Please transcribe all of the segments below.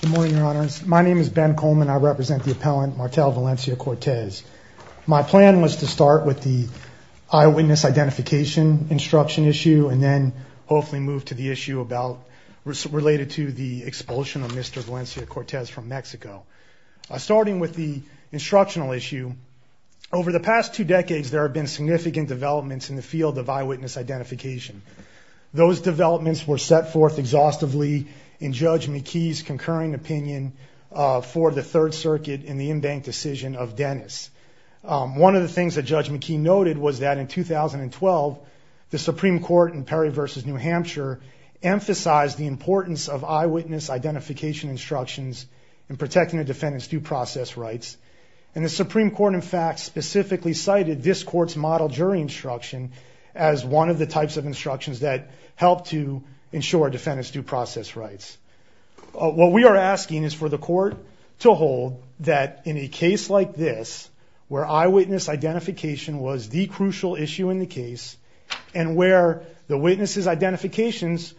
Good morning, your honors. My name is Ben Coleman. I represent the appellant Martel Valencia-Cortez. My plan was to start with the eyewitness identification instruction issue and then hopefully move to the issue related to the expulsion of Mr. Valencia-Cortez from Mexico. Starting with the instructional issue, over the past two decades, there have been significant developments in the field of eyewitness identification. Those developments were set forth exhaustively in Judge McKee's concurring opinion for the Third Circuit in the in-bank decision of Dennis. One of the things that Judge McKee noted was that in 2012, the Supreme Court in Perry v. New Hampshire emphasized the importance of eyewitness identification instructions in protecting a defendant's due process rights. And the Supreme Court, in fact, specifically cited this Court's model jury instruction as one of the types of instructions that help to ensure a defendant's due process rights. What we are asking is for the Court to hold that in a case like this, where eyewitness identification was the crucial issue in the case and where the witness's identifications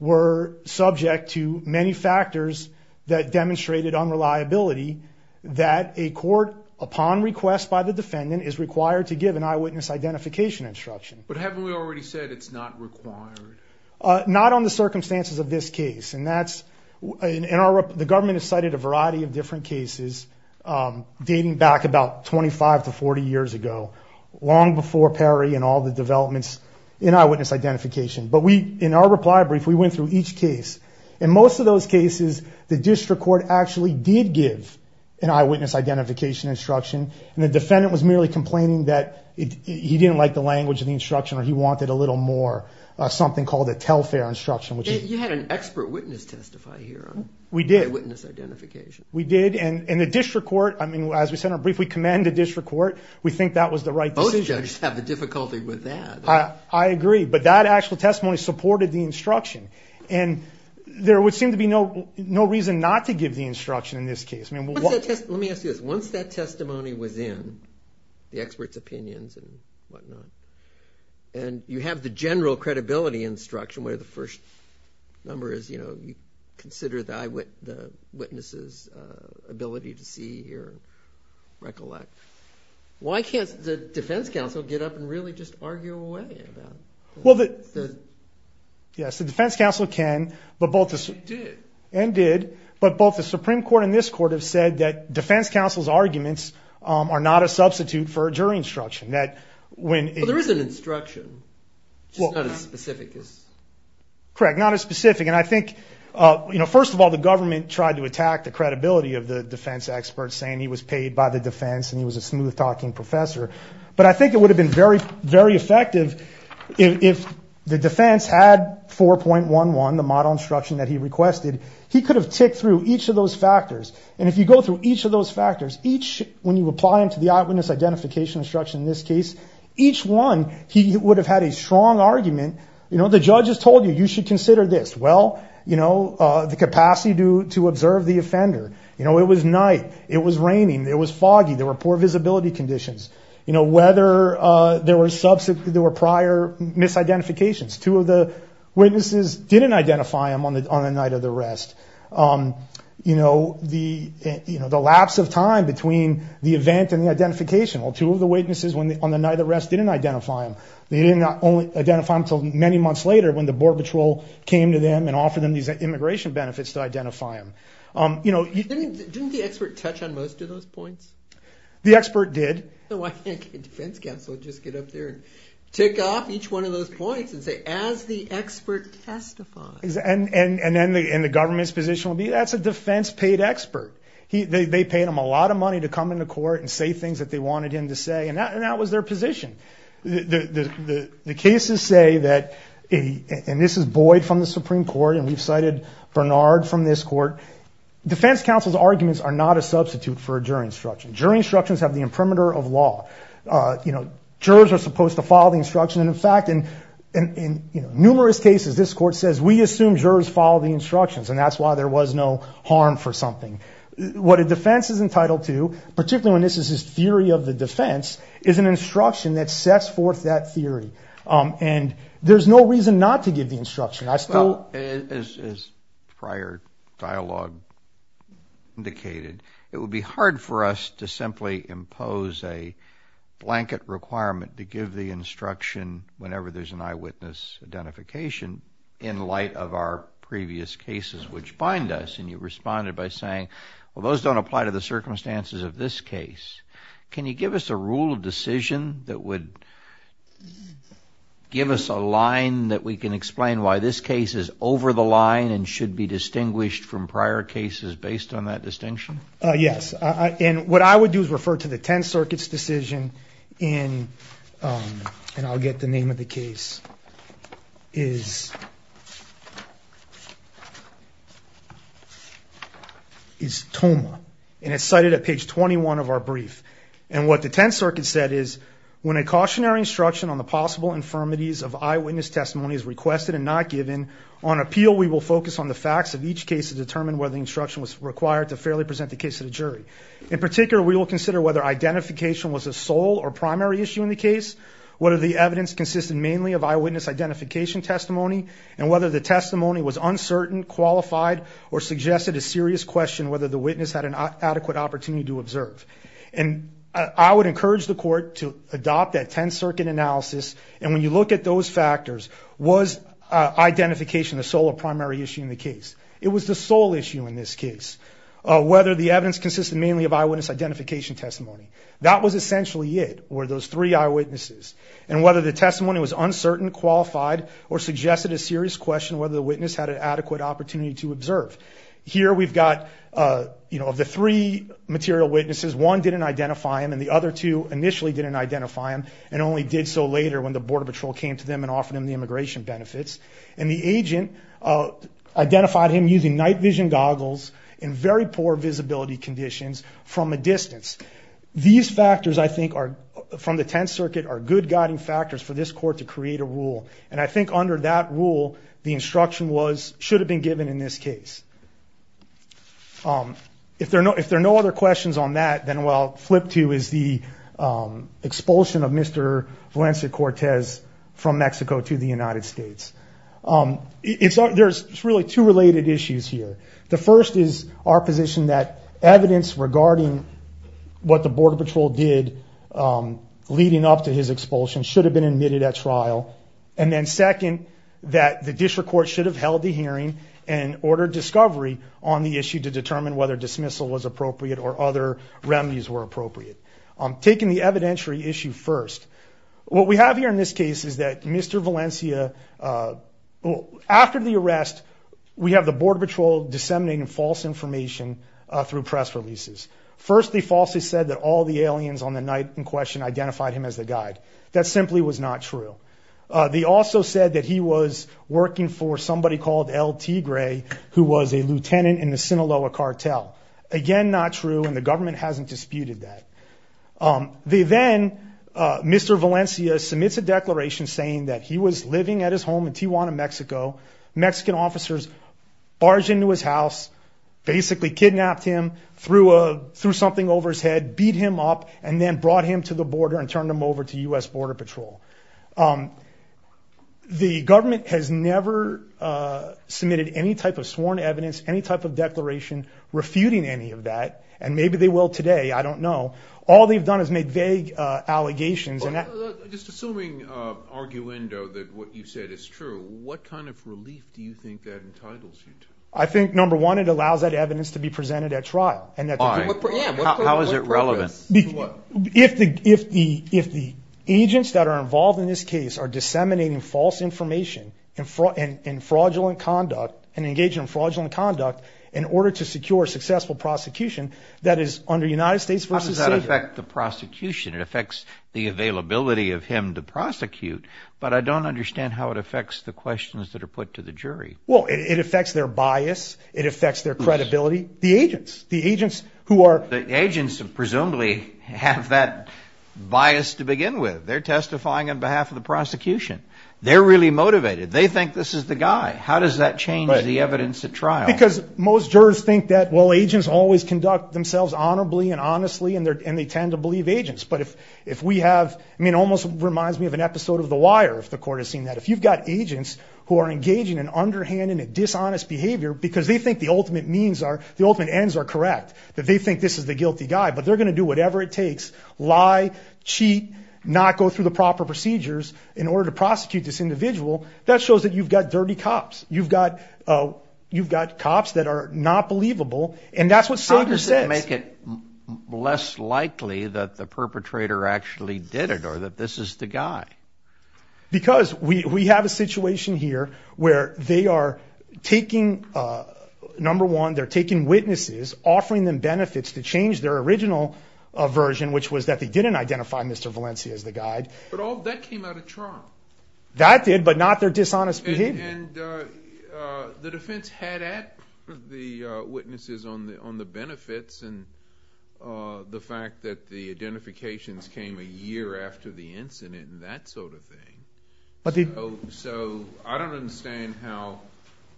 were subject to many factors that demonstrated unreliability, that a court, upon request by the defendant, is required to give an eyewitness identification instruction. But haven't we already said it's not required? Not on the circumstances of this case. The government has cited a variety of different cases dating back about 25 to 40 years ago, long before Perry and all the developments in eyewitness identification. But in our reply brief, we went through each case. In most of those cases, the district court actually did give an eyewitness identification instruction, and the defendant was merely complaining that he didn't like the language of the instruction or he wanted a little more, something called a tell-fair instruction. You had an expert witness testify here on eyewitness identification. We did, and the district court, as we said in our brief, we commend the district court. We think that was the right decision. Most judges have a difficulty with that. I agree, but that actual testimony supported the instruction. And there would seem to be no reason not to give the instruction in this case. Let me ask you this. Once that testimony was in, the expert's opinions and whatnot, and you have the general credibility instruction where the first number is, you know, you consider the witness's ability to see or recollect, why can't the defense counsel get up and really just argue away about it? Yes, the defense counsel can and did, but both the Supreme Court and this court have said that defense counsel's arguments are not a substitute for a jury instruction. There is an instruction, just not as specific. Correct, not as specific. And I think, you know, first of all, the government tried to attack the credibility of the defense expert, saying he was paid by the defense and he was a smooth-talking professor. But I think it would have been very effective if the defense had 4.11, the model instruction that he requested. He could have ticked through each of those factors. And if you go through each of those factors, each when you apply them to the eyewitness identification instruction in this case, each one he would have had a strong argument. You know, the judge has told you, you should consider this. Well, you know, the capacity to observe the offender. You know, it was night. It was raining. It was foggy. There were poor visibility conditions. You know, whether there were prior misidentifications. Two of the witnesses didn't identify him on the night of the arrest. You know, the lapse of time between the event and the identification. Well, two of the witnesses on the night of the arrest didn't identify him. They didn't identify him until many months later when the Border Patrol came to them and offered them these immigration benefits to identify him. Didn't the expert touch on most of those points? The expert did. Why can't a defense counsel just get up there and tick off each one of those points and say, as the expert testifies. And then the government's position would be, that's a defense-paid expert. They paid him a lot of money to come into court and say things that they wanted him to say, and that was their position. The cases say that, and this is Boyd from the Supreme Court, and we've cited Bernard from this court. Defense counsel's arguments are not a substitute for a jury instruction. Jury instructions have the imprimatur of law. You know, jurors are supposed to follow the instruction. And, in fact, in numerous cases, this court says, we assume jurors follow the instructions, and that's why there was no harm for something. What a defense is entitled to, particularly when this is his theory of the defense, is an instruction that sets forth that theory. And there's no reason not to give the instruction. Well, as prior dialogue indicated, it would be hard for us to simply impose a blanket requirement to give the instruction whenever there's an eyewitness identification in light of our previous cases which bind us. And you responded by saying, well, those don't apply to the circumstances of this case. Can you give us a rule of decision that would give us a line that we can explain why this case is over the line and should be distinguished from prior cases based on that distinction? Yes. And what I would do is refer to the Tenth Circuit's decision in, and I'll get the name of the case, is Tomah. And it's cited at page 21 of our brief. And what the Tenth Circuit said is, When a cautionary instruction on the possible infirmities of eyewitness testimony is requested and not given, on appeal we will focus on the facts of each case to determine whether the instruction was required to fairly present the case to the jury. In particular, we will consider whether identification was a sole or primary issue in the case, whether the evidence consisted mainly of eyewitness identification testimony, and whether the testimony was uncertain, qualified, or suggested a serious question whether the witness had an adequate opportunity to observe. And I would encourage the court to adopt that Tenth Circuit analysis, and when you look at those factors, was identification the sole or primary issue in the case? It was the sole issue in this case, whether the evidence consisted mainly of eyewitness identification testimony. That was essentially it, were those three eyewitnesses, and whether the testimony was uncertain, qualified, or suggested a serious question whether the witness had an adequate opportunity to observe. Here we've got, you know, of the three material witnesses, one didn't identify him and the other two initially didn't identify him, and only did so later when the Border Patrol came to them and offered them the immigration benefits. And the agent identified him using night vision goggles in very poor visibility conditions from a distance. These factors, I think, are, from the Tenth Circuit, are good guiding factors for this court to create a rule. And I think under that rule, the instruction was, should have been given in this case. If there are no other questions on that, then what I'll flip to is the expulsion of Mr. Valencia Cortez from Mexico to the United States. There's really two related issues here. The first is our position that evidence regarding what the Border Patrol did leading up to his expulsion should have been admitted at trial. And then second, that the district court should have held the hearing and ordered discovery on the issue to determine whether dismissal was appropriate or other remedies were appropriate. Taking the evidentiary issue first, what we have here in this case is that Mr. Valencia, after the arrest, we have the Border Patrol disseminating false information through press releases. First, they falsely said that all the aliens on the night in question identified him as the guide. That simply was not true. They also said that he was working for somebody called El Tigre, who was a lieutenant in the Sinaloa cartel. Again, not true, and the government hasn't disputed that. They then, Mr. Valencia submits a declaration saying that he was living at his home in Tijuana, Mexico. Mexican officers barged into his house, basically kidnapped him, threw something over his head, beat him up, and then brought him to the border and turned him over to U.S. Border Patrol. The government has never submitted any type of sworn evidence, any type of declaration refuting any of that, and maybe they will today, I don't know. All they've done is make vague allegations. Just assuming, arguendo, that what you said is true, what kind of relief do you think that entitles you to? I think, number one, it allows that evidence to be presented at trial. Why? How is it relevant? If the agents that are involved in this case are disseminating false information and engaging in fraudulent conduct in order to secure successful prosecution, that is under United States v. Savior. How does that affect the prosecution? It affects the availability of him to prosecute, but I don't understand how it affects the questions that are put to the jury. Well, it affects their bias, it affects their credibility. The agents, the agents who are... The agents, presumably, have that bias to begin with. They're testifying on behalf of the prosecution. They're really motivated. They think this is the guy. How does that change the evidence at trial? Because most jurors think that, well, agents always conduct themselves honorably and honestly, and they tend to believe agents, but if we have... I mean, it almost reminds me of an episode of The Wire, if the court has seen that. If you've got agents who are engaging in underhanded and dishonest behavior because they think the ultimate means are, the ultimate ends are correct, that they think this is the guilty guy, but they're going to do whatever it takes, lie, cheat, not go through the proper procedures in order to prosecute this individual, that shows that you've got dirty cops. You've got cops that are not believable, and that's what Savior says. How does it make it less likely that the perpetrator actually did it or that this is the guy? Because we have a situation here where they are taking, number one, they're taking witnesses, offering them benefits to change their original version, which was that they didn't identify Mr. Valencia as the guy. But that came out of trial. That did, but not their dishonest behavior. And the defense had at the witnesses on the benefits and that sort of thing. So I don't understand how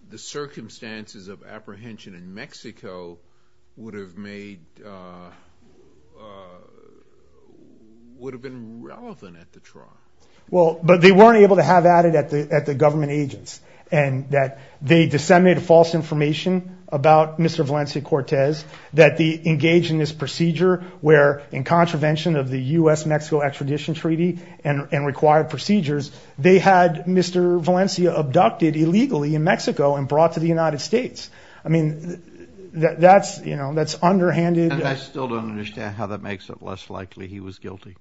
the circumstances of apprehension in Mexico would have made, would have been relevant at the trial. Well, but they weren't able to have at it at the government agents and that they disseminated false information about Mr. Valencia Cortez that they engaged in this procedure where, in contravention of the U.S.-Mexico extradition treaty and required procedures, they had Mr. Valencia abducted illegally in Mexico and brought to the United States. I mean, that's underhanded. And I still don't understand how that makes it less likely he was guilty.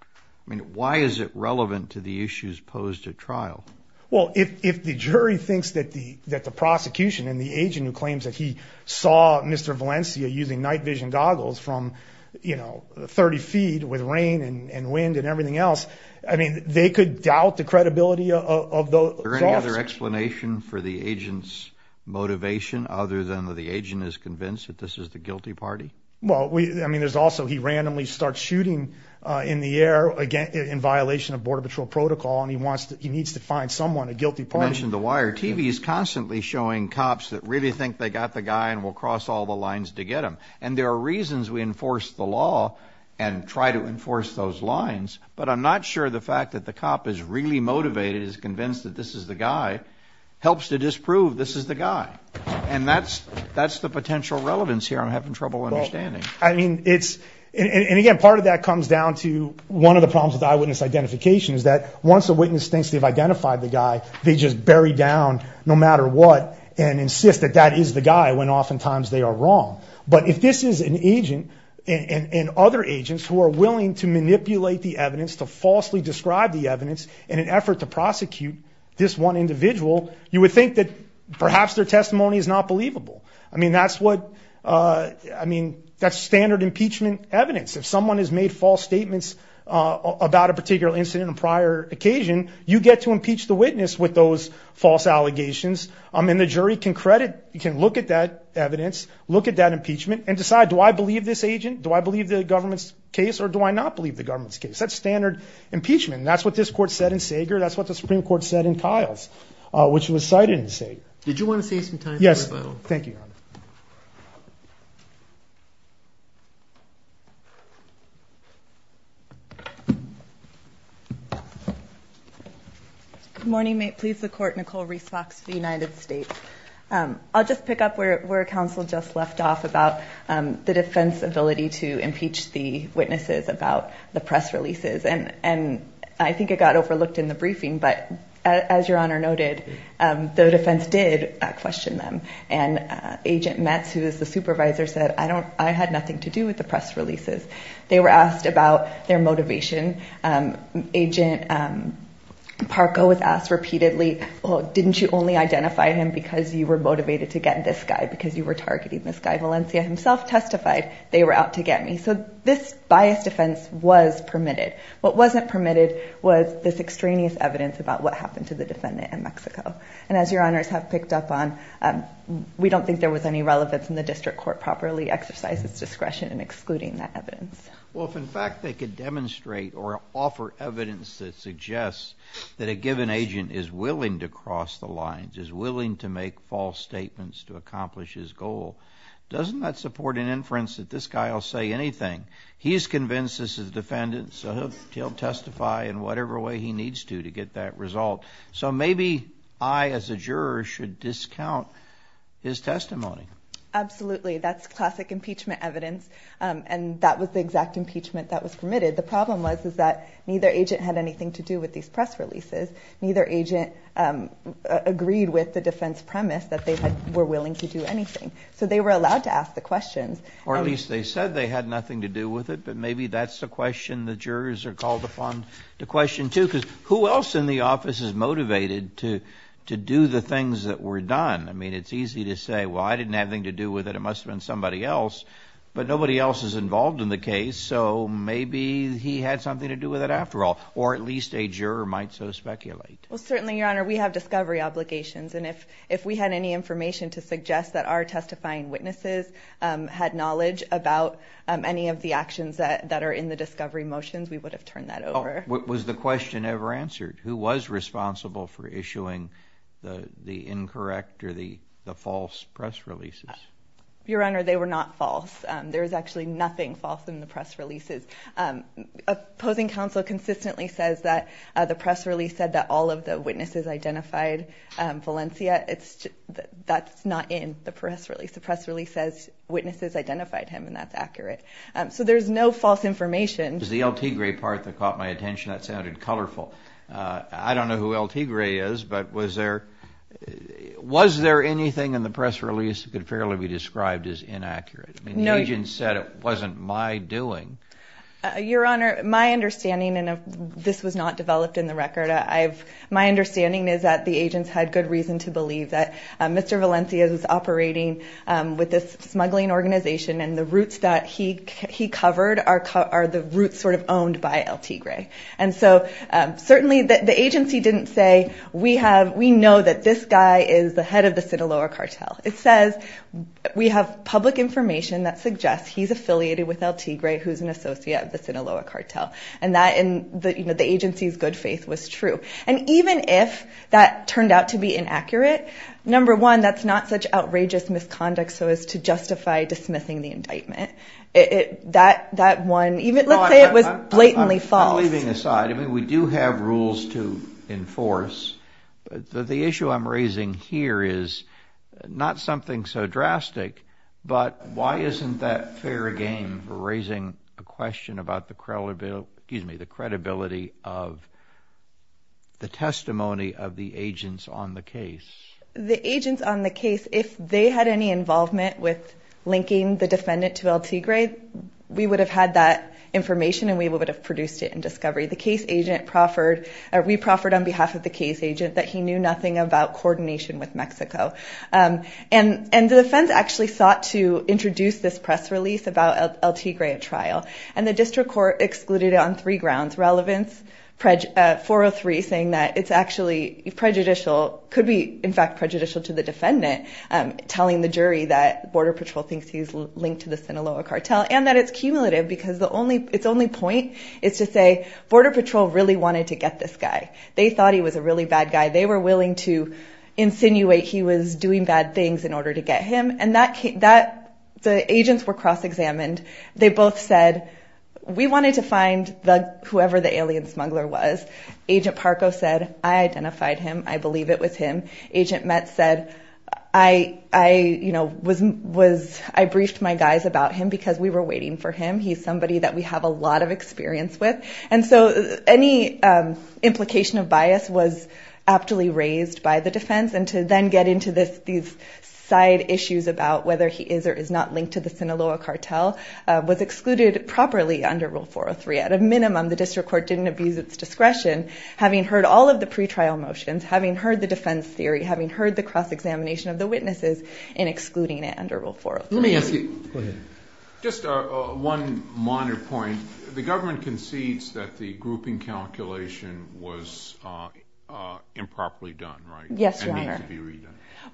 I mean, why is it relevant to the issues posed at trial? Well, if the jury thinks that the prosecution and the agent who claims that he saw Mr. Valencia using night vision goggles from, you know, 30 feet with rain and wind and everything else, I mean, they could doubt the credibility of those officers. Is there any other explanation for the agent's motivation other than that the agent is convinced that this is the guilty party? Well, I mean, there's also, he randomly starts shooting in the air in violation of border patrol protocol, and he needs to find someone, a guilty party. You mentioned the wire. The TV is constantly showing cops that really think they got the guy and will cross all the lines to get him. And there are reasons we enforce the law and try to enforce those lines, but I'm not sure the fact that the cop is really motivated, is convinced that this is the guy, helps to disprove this is the guy. And that's the potential relevance here I'm having trouble understanding. Well, I mean, it's, and again, part of that comes down to one of the problems with eyewitness identification is that once a witness thinks they've identified the guy, they just bury down no matter what and insist that that is the guy when oftentimes they are wrong. But if this is an agent and other agents who are willing to manipulate the evidence, to falsely describe the evidence in an effort to prosecute this one individual, you would think that perhaps their testimony is not believable. I mean, that's what, I mean, that's standard impeachment evidence. If someone has made false statements about a particular incident on a prior occasion, you get to impeach the witness with those false allegations and the jury can credit, can look at that evidence, look at that impeachment and decide, do I believe this agent? Do I believe the government's case? Or do I not believe the government's case? That's standard impeachment. And that's what this court said in Sager, that's what the Supreme Court said in Kiles, which was cited in Sager. Did you want to say something? Yes, thank you. Good morning. May it please the court, Nicole Reese Fox of the United States. I'll just pick up where counsel just left off about the defense's ability to impeach the witnesses about the press releases. And I think it got overlooked in the briefing, but as your honor noted, the defense did question them. And Agent Metz, who is the supervisor, said, I had nothing to do with the press releases. They were asked about their motivation. Agent Parco was asked repeatedly, well, didn't you only identify him because you were motivated to get this guy because you were targeting this guy? Valencia himself testified they were out to get me. So this biased defense was permitted. What wasn't permitted was this extraneous evidence about what happened to the defendant in Mexico. And as your honors have picked up on, we don't think there was any relevance in the district court properly exercise its discretion in excluding that evidence. Well, if in fact they could demonstrate or offer evidence that suggests that a given agent is willing to cross the lines, is willing to make false statements to accomplish his goal, doesn't that support an inference that this guy will say anything? He's convinced this is a defendant, so he'll testify in whatever way he needs to to get that result. So maybe I, as a juror, should discount his testimony. Absolutely. That's classic impeachment evidence. And that was the exact impeachment that was permitted. The problem was that neither agent had anything to do with these press releases. Neither agent agreed with the defense premise that they were willing to do anything. So they were allowed to ask the questions. Or at least they said they had nothing to do with it. But maybe that's the question the jurors are called upon to question too. Because who else in the office is motivated to do the things that were done? I mean, it's easy to say, well, I didn't have anything to do with it. It must have been somebody else. But nobody else is involved in the case, so maybe he had something to do with it after all. Or at least a juror might so speculate. Well, certainly, Your Honor, we have discovery obligations. And if we had any information to suggest that our testifying witnesses had knowledge about any of the actions that are in the discovery motions, we would have turned that over. Was the question ever answered? Who was responsible for issuing the incorrect or the false press releases? Your Honor, they were not false. There is actually nothing false in the press releases. Opposing counsel consistently says that the press release said that all of the witnesses identified Valencia. That's not in the press release. The press release says witnesses identified him and that's accurate. So there's no false information. There's the El Tigre part that caught my attention. That sounded colorful. I don't know who El Tigre is, but was there anything in the press release that could fairly be described as inaccurate? The agent said it wasn't my doing. Your Honor, my understanding, and this was not developed in the record, my understanding is that the agents had good reason to believe that Mr. Valencia was operating with this smuggling organization and the routes that he covered are the routes sort of owned by El Tigre. And so certainly the agency didn't say we know that this guy is the head of the Sinaloa cartel. It says we have public information that suggests he's affiliated with El Tigre, who's an associate of the Sinaloa cartel. And that the agency's good faith was true. And even if that turned out to be inaccurate, number one, that's not such outrageous misconduct so as to justify dismissing the indictment. Let's say it was blatantly false. Leaving aside, we do have rules to enforce, but the issue I'm raising here is not something so drastic, but why isn't that fair game for raising a question about the credibility of the testimony of the agents on the case? The agents on the case, if they had any involvement with linking the Sinaloa cartel to El Tigre, we would have had that information and we would have produced it in discovery. We proffered on behalf of the case agent that he knew nothing about coordination with Mexico. And the defense actually sought to introduce this press release about El Tigre at trial. And the district court excluded it on three grounds. Relevance, 403 saying that it's actually prejudicial, could be in fact prejudicial to the defendant telling the jury that Border Patrol thinks he's linked to the Sinaloa cartel and that it's cumulative because it's only point is to say Border Patrol really wanted to get this guy. They thought he was a really bad guy. They were willing to insinuate he was doing bad things in order to get him. The agents were cross-examined. They both said we wanted to find whoever the alien smuggler was. Agent Parco said I identified him. I believe it was him. Agent Metz said I briefed my guys about him because we were waiting for him. He's somebody that we have a lot of experience with. And so any implication of bias was aptly raised by the defense. And to then get into these side issues about whether he is or is not linked to the Sinaloa cartel was excluded properly under rule 403. At a minimum, the district court didn't abuse its discretion, having heard all of the pre-trial motions, having heard the defense theory, having heard the cross-examination of the witnesses, in excluding it under rule 403. Let me ask you, just one minor point. The government concedes that the grouping calculation was improperly done, right? Yes, your honor.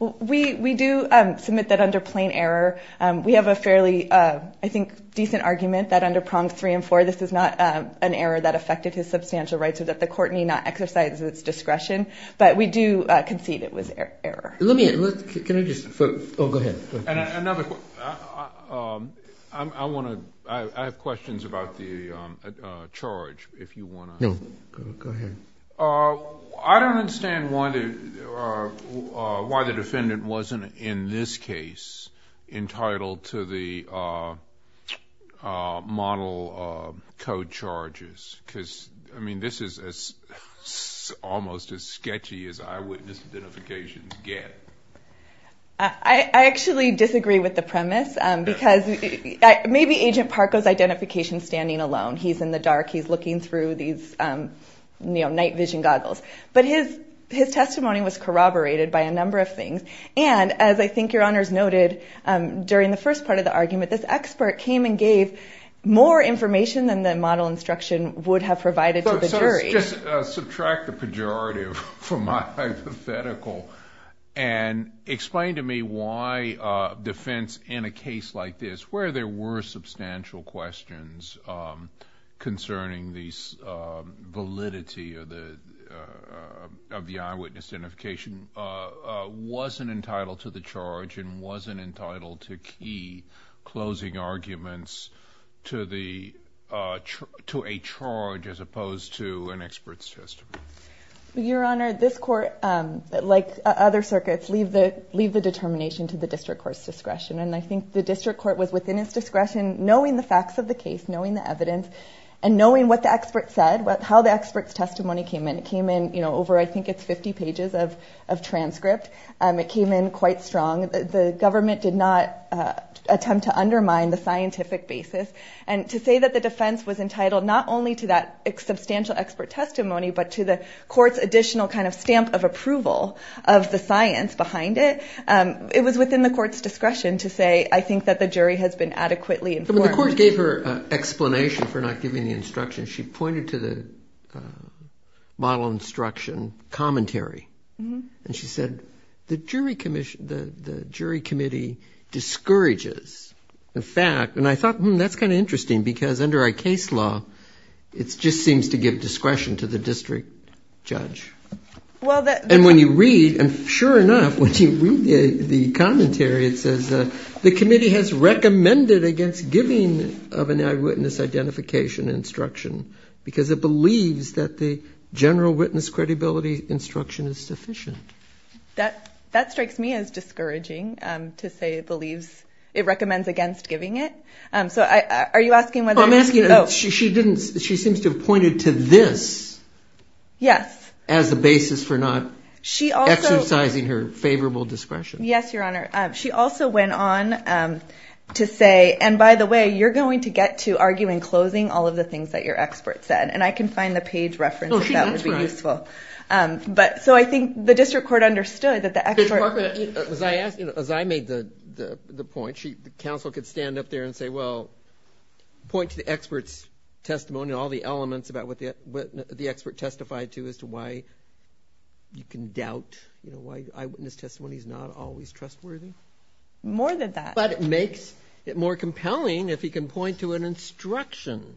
We do submit that under plain error we have a fairly, I think, decent argument that under prongs three and four, this is not an error that affected his substantial rights or that the court need not exercise its discretion. But we do concede it was an error. Can I just, oh, go ahead. I have questions about the charge, if you want to. No, go ahead. I don't understand why the defendant wasn't in this case entitled to the model code charges. Because, I mean, this is almost as sketchy as eyewitness identifications get. I actually disagree with the premise, because maybe Agent Parko's identification is standing alone. He's in the dark. He's looking through these night vision goggles. But his testimony was corroborated by a number of things. And, as I think your honors noted, during the first part of the argument, this expert came and gave more information than the model instruction would have provided to the jury. Just subtract the pejorative from my hypothetical and explain to me why defense in a case like this, where there were substantial questions concerning the validity of the eyewitness identification wasn't entitled to the charge and wasn't entitled to key closing arguments to a charge as opposed to an expert's testimony. Your honor, this court, like other circuits, leave the determination to the district court's discretion. And I think the district court was within its discretion, knowing the facts of the case, knowing the evidence, and knowing what the expert said, how the expert's testimony came in. It came in over, I think it's 50 pages of transcript. It came in quite strong. The government did not attempt to undermine the scientific basis. And to say that the defense was entitled not only to that substantial expert testimony, but to the court's additional kind of stamp of approval of the science behind it, it was within the court's discretion to say, I think that the jury has been adequately informed. But the court gave her an explanation for not giving the instruction. She pointed to the model instruction commentary. And she said, the jury committee discourages the fact. And I thought, hmm, that's kind of interesting, because under our case law, it just seems to give discretion to the district judge. And when you read, and sure enough, when you read the commentary, it says the committee has recommended against giving of an eyewitness identification instruction, because it believes that the general witness credibility instruction is sufficient. That strikes me as discouraging, to say it believes it recommends against giving it. Are you asking whether... She seems to have pointed to this as the basis for not exercising her favorable discretion. Yes, Your Honor. She also went on to say, and by the way, you're going to get to arguing closing all of the things that your expert said. And I can find the page reference if that would be useful. So I think the district court understood that the expert... As I made the point, the counsel could stand up there and say, well, point to the expert's testimony and all the elements about what the expert testified to as to why you can doubt why eyewitness testimony is not always trustworthy. More than that. But it makes it more compelling if he can point to an instruction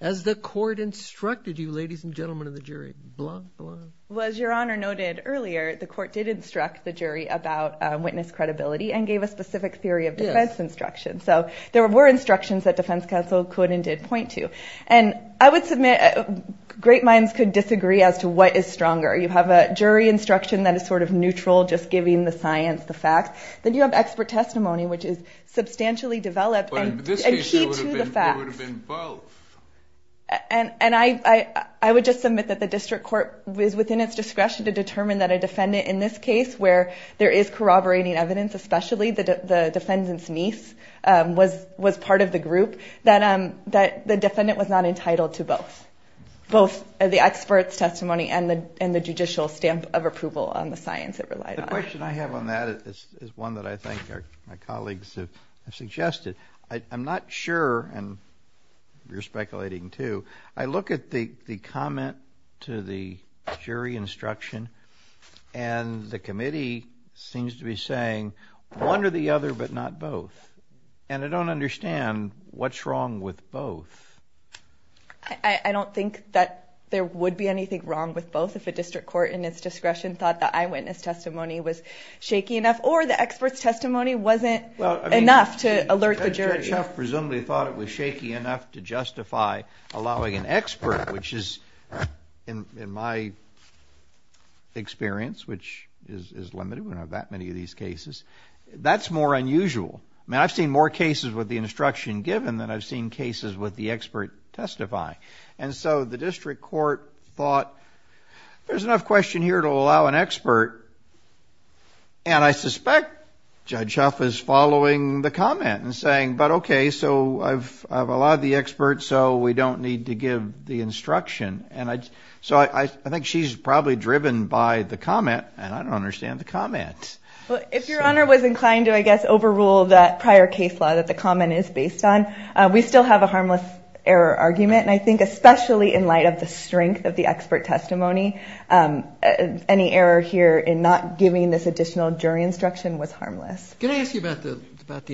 as the court instructed you, ladies and gentlemen of the jury. Blah, blah. Well, as Your Honor noted earlier, the court did instruct the jury about witness credibility and gave a specific theory of defense instruction. So there were instructions that defense counsel could and did point to. And I would submit great minds could disagree as to what is stronger. You have a jury instruction that is sort of neutral, just giving the science, the facts. Then you have expert testimony, which is substantially developed and key to the facts. But in this case, it would have been both. And I would just submit that the district court was within its discretion to determine that a defendant in this case, where there is corroborating evidence, part of the group, that the defendant was not entitled to both. Both the expert's testimony and the judicial stamp of approval on the science it relied on. The question I have on that is one that I think my colleagues have suggested. I'm not sure, and you're speculating too, I look at the comment to the jury instruction and the committee seems to be saying one or the other, but not both. And I don't understand what's wrong with both. I don't think that there would be anything wrong with both if a district court in its discretion thought the eyewitness testimony was shaky enough, or the expert's testimony wasn't enough to alert the jury. The judge presumably thought it was shaky enough to justify allowing an expert, which is, in my experience, which is limited, we don't have that many of these cases, that's more unusual. I've seen more cases with the instruction given than I've seen cases with the expert testifying. And so the district court thought, there's enough question here to allow an expert and I suspect Judge Huff is following the comment and saying, but okay, so I've allowed the expert so we don't need to give the instruction. So I think she's probably driven by the comment and I don't understand the comment. If your honor was inclined to, I guess, overrule that prior case law that the comment is based on, we still have a harmless error argument and I think especially in light of the strength of the expert testimony, any error here in not giving this additional jury instruction was harmless. Can I ask you about the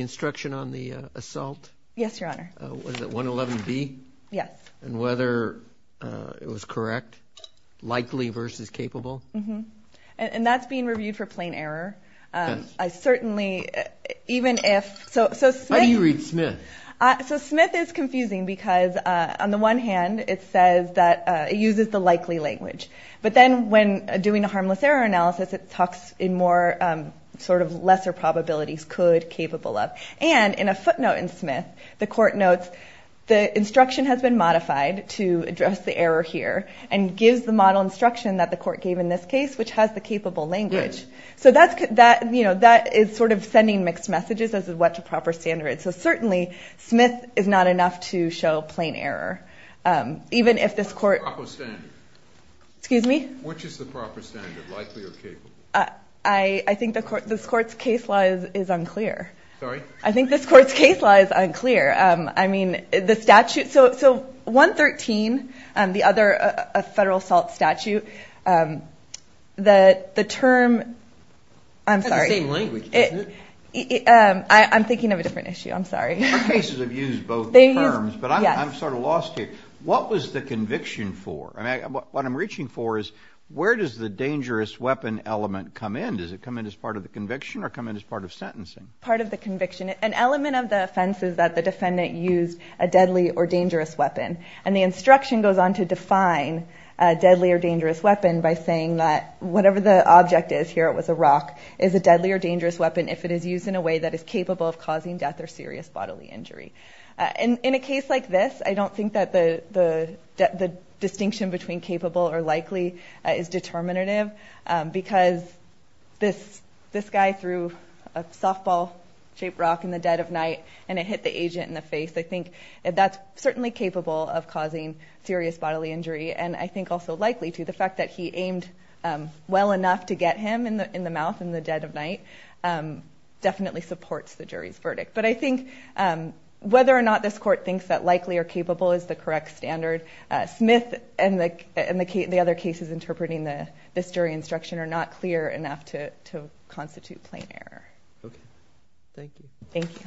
instruction on the assault? Yes, your honor. Was it 111B? Yes. And whether it was correct, likely versus capable? And that's being reviewed for plain error. Yes. How do you read Smith? So Smith is confusing because on the one hand, it says that it uses the likely language, but then when doing a harmless error analysis, it talks in more sort of lesser probabilities, could, capable of. And in a footnote in Smith, the court notes the instruction has been modified to address the error here and gives the model instruction that the court gave in this case which has the capable language. So that is sort of sending mixed messages as to what's a proper standard. So certainly, Smith is not enough to show plain error. Even if this court... Excuse me? Which is the proper standard, likely or capable? I think this court's case law is unclear. I think this court's case law is unclear. So 113, the other federal assault statute, the term... That's the same language, isn't it? I'm thinking of a different issue, I'm sorry. Both cases have used both terms, but I'm sort of lost here. What was the conviction for? What I'm reaching for is where does the dangerous weapon element come in? Does it come in as part of the conviction or come in as part of sentencing? Part of the conviction. An element of the offense is that the defendant used a deadly or dangerous weapon. And the instruction goes on to define a deadly or dangerous weapon by saying that whatever the object is, here it was a rock, is a deadly or dangerous weapon if it is used in a way that is capable of causing death or serious bodily injury. In a case like this, I don't think that the distinction between capable or likely is determinative because this guy threw a softball-shaped rock in the dead of night because this guy threw a softball-shaped rock in the dead of night and it hit the agent in the face. I think that's certainly capable of causing serious bodily injury and I think also likely to. The fact that he aimed well enough to get him in the mouth in the dead of night definitely supports the jury's verdict. But I think whether or not this court thinks that likely or capable is the correct standard, Smith and the other cases interpreting this jury instruction are not clear enough to constitute plain error. Thank you. Thank you.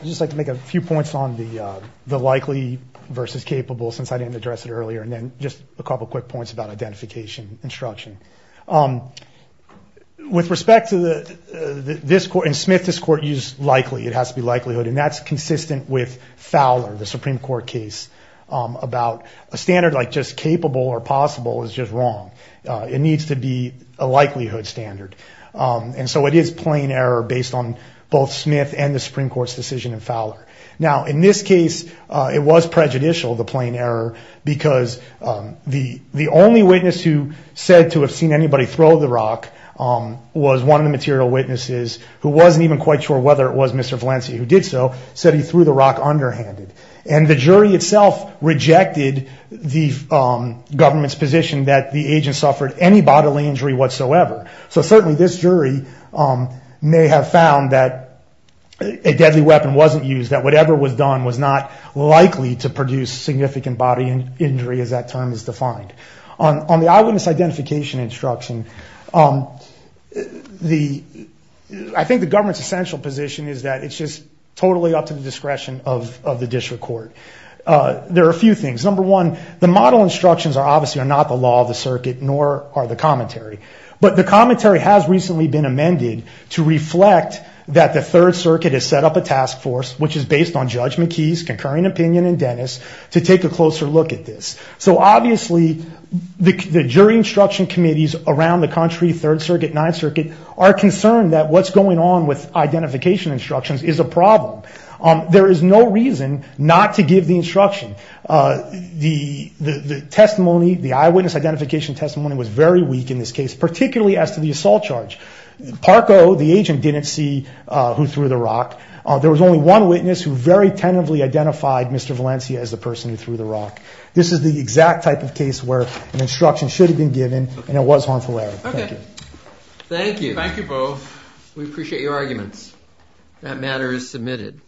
I'd just like to make a few points on the likely versus capable since I didn't address it earlier and then just a couple quick points about identification instruction. With respect to this court, in Smith this court used likely. It has to be likelihood and that's consistent with Fowler, the Supreme Court case. A standard like just capable or possible is just wrong. It needs to be a likelihood standard. So it is plain error based on both Smith and the Supreme Court's decision in Fowler. So it is plain error based on both Smith and the Supreme Court's decision in Fowler. Now, in this case it was prejudicial, the plain error, because the only witness who said to have seen anybody throw the rock because the only witness who said to have seen anybody throw the rock was one of the material witnesses who wasn't even quite sure whether it was Mr. Valencia who did so, said he threw the rock underhanded. And the jury itself rejected the government's position And the jury itself rejected the government's position that the agent suffered any bodily injury whatsoever. So certainly this jury may have found that a deadly weapon wasn't used, So certainly this jury may have found that a deadly weapon wasn't used, that whatever was done was not likely to produce significant body injury as that term is defined. On the eyewitness identification instruction, I think the government's essential position is that it's just totally up to the discretion of the district court. it's just totally up to the discretion of the district court. There are a few things. Number one, the model instructions are obviously not the law of the circuit, nor are the commentary. But the commentary has recently been amended to reflect that the Third Circuit has set up a task force, which is based on Judge McKee's concurring opinion and Dennis, to take a closer look at this. So obviously, the jury instruction committees around the country, Third Circuit, Ninth Circuit, are concerned that what's going on with identification instructions is a problem. There is no reason not to give the instruction. The eyewitness identification testimony was very weak in this case, The eyewitness identification testimony was very weak in this case, particularly as to the assault charge. Parko, the agent, didn't see who threw the rock. There was only one witness who very tentatively identified Mr. Valencia as the person who threw the rock. This is the exact type of case where an instruction should have been given, and it was harmful error. Thank you. Thank you. We appreciate your arguments. That matter is submitted.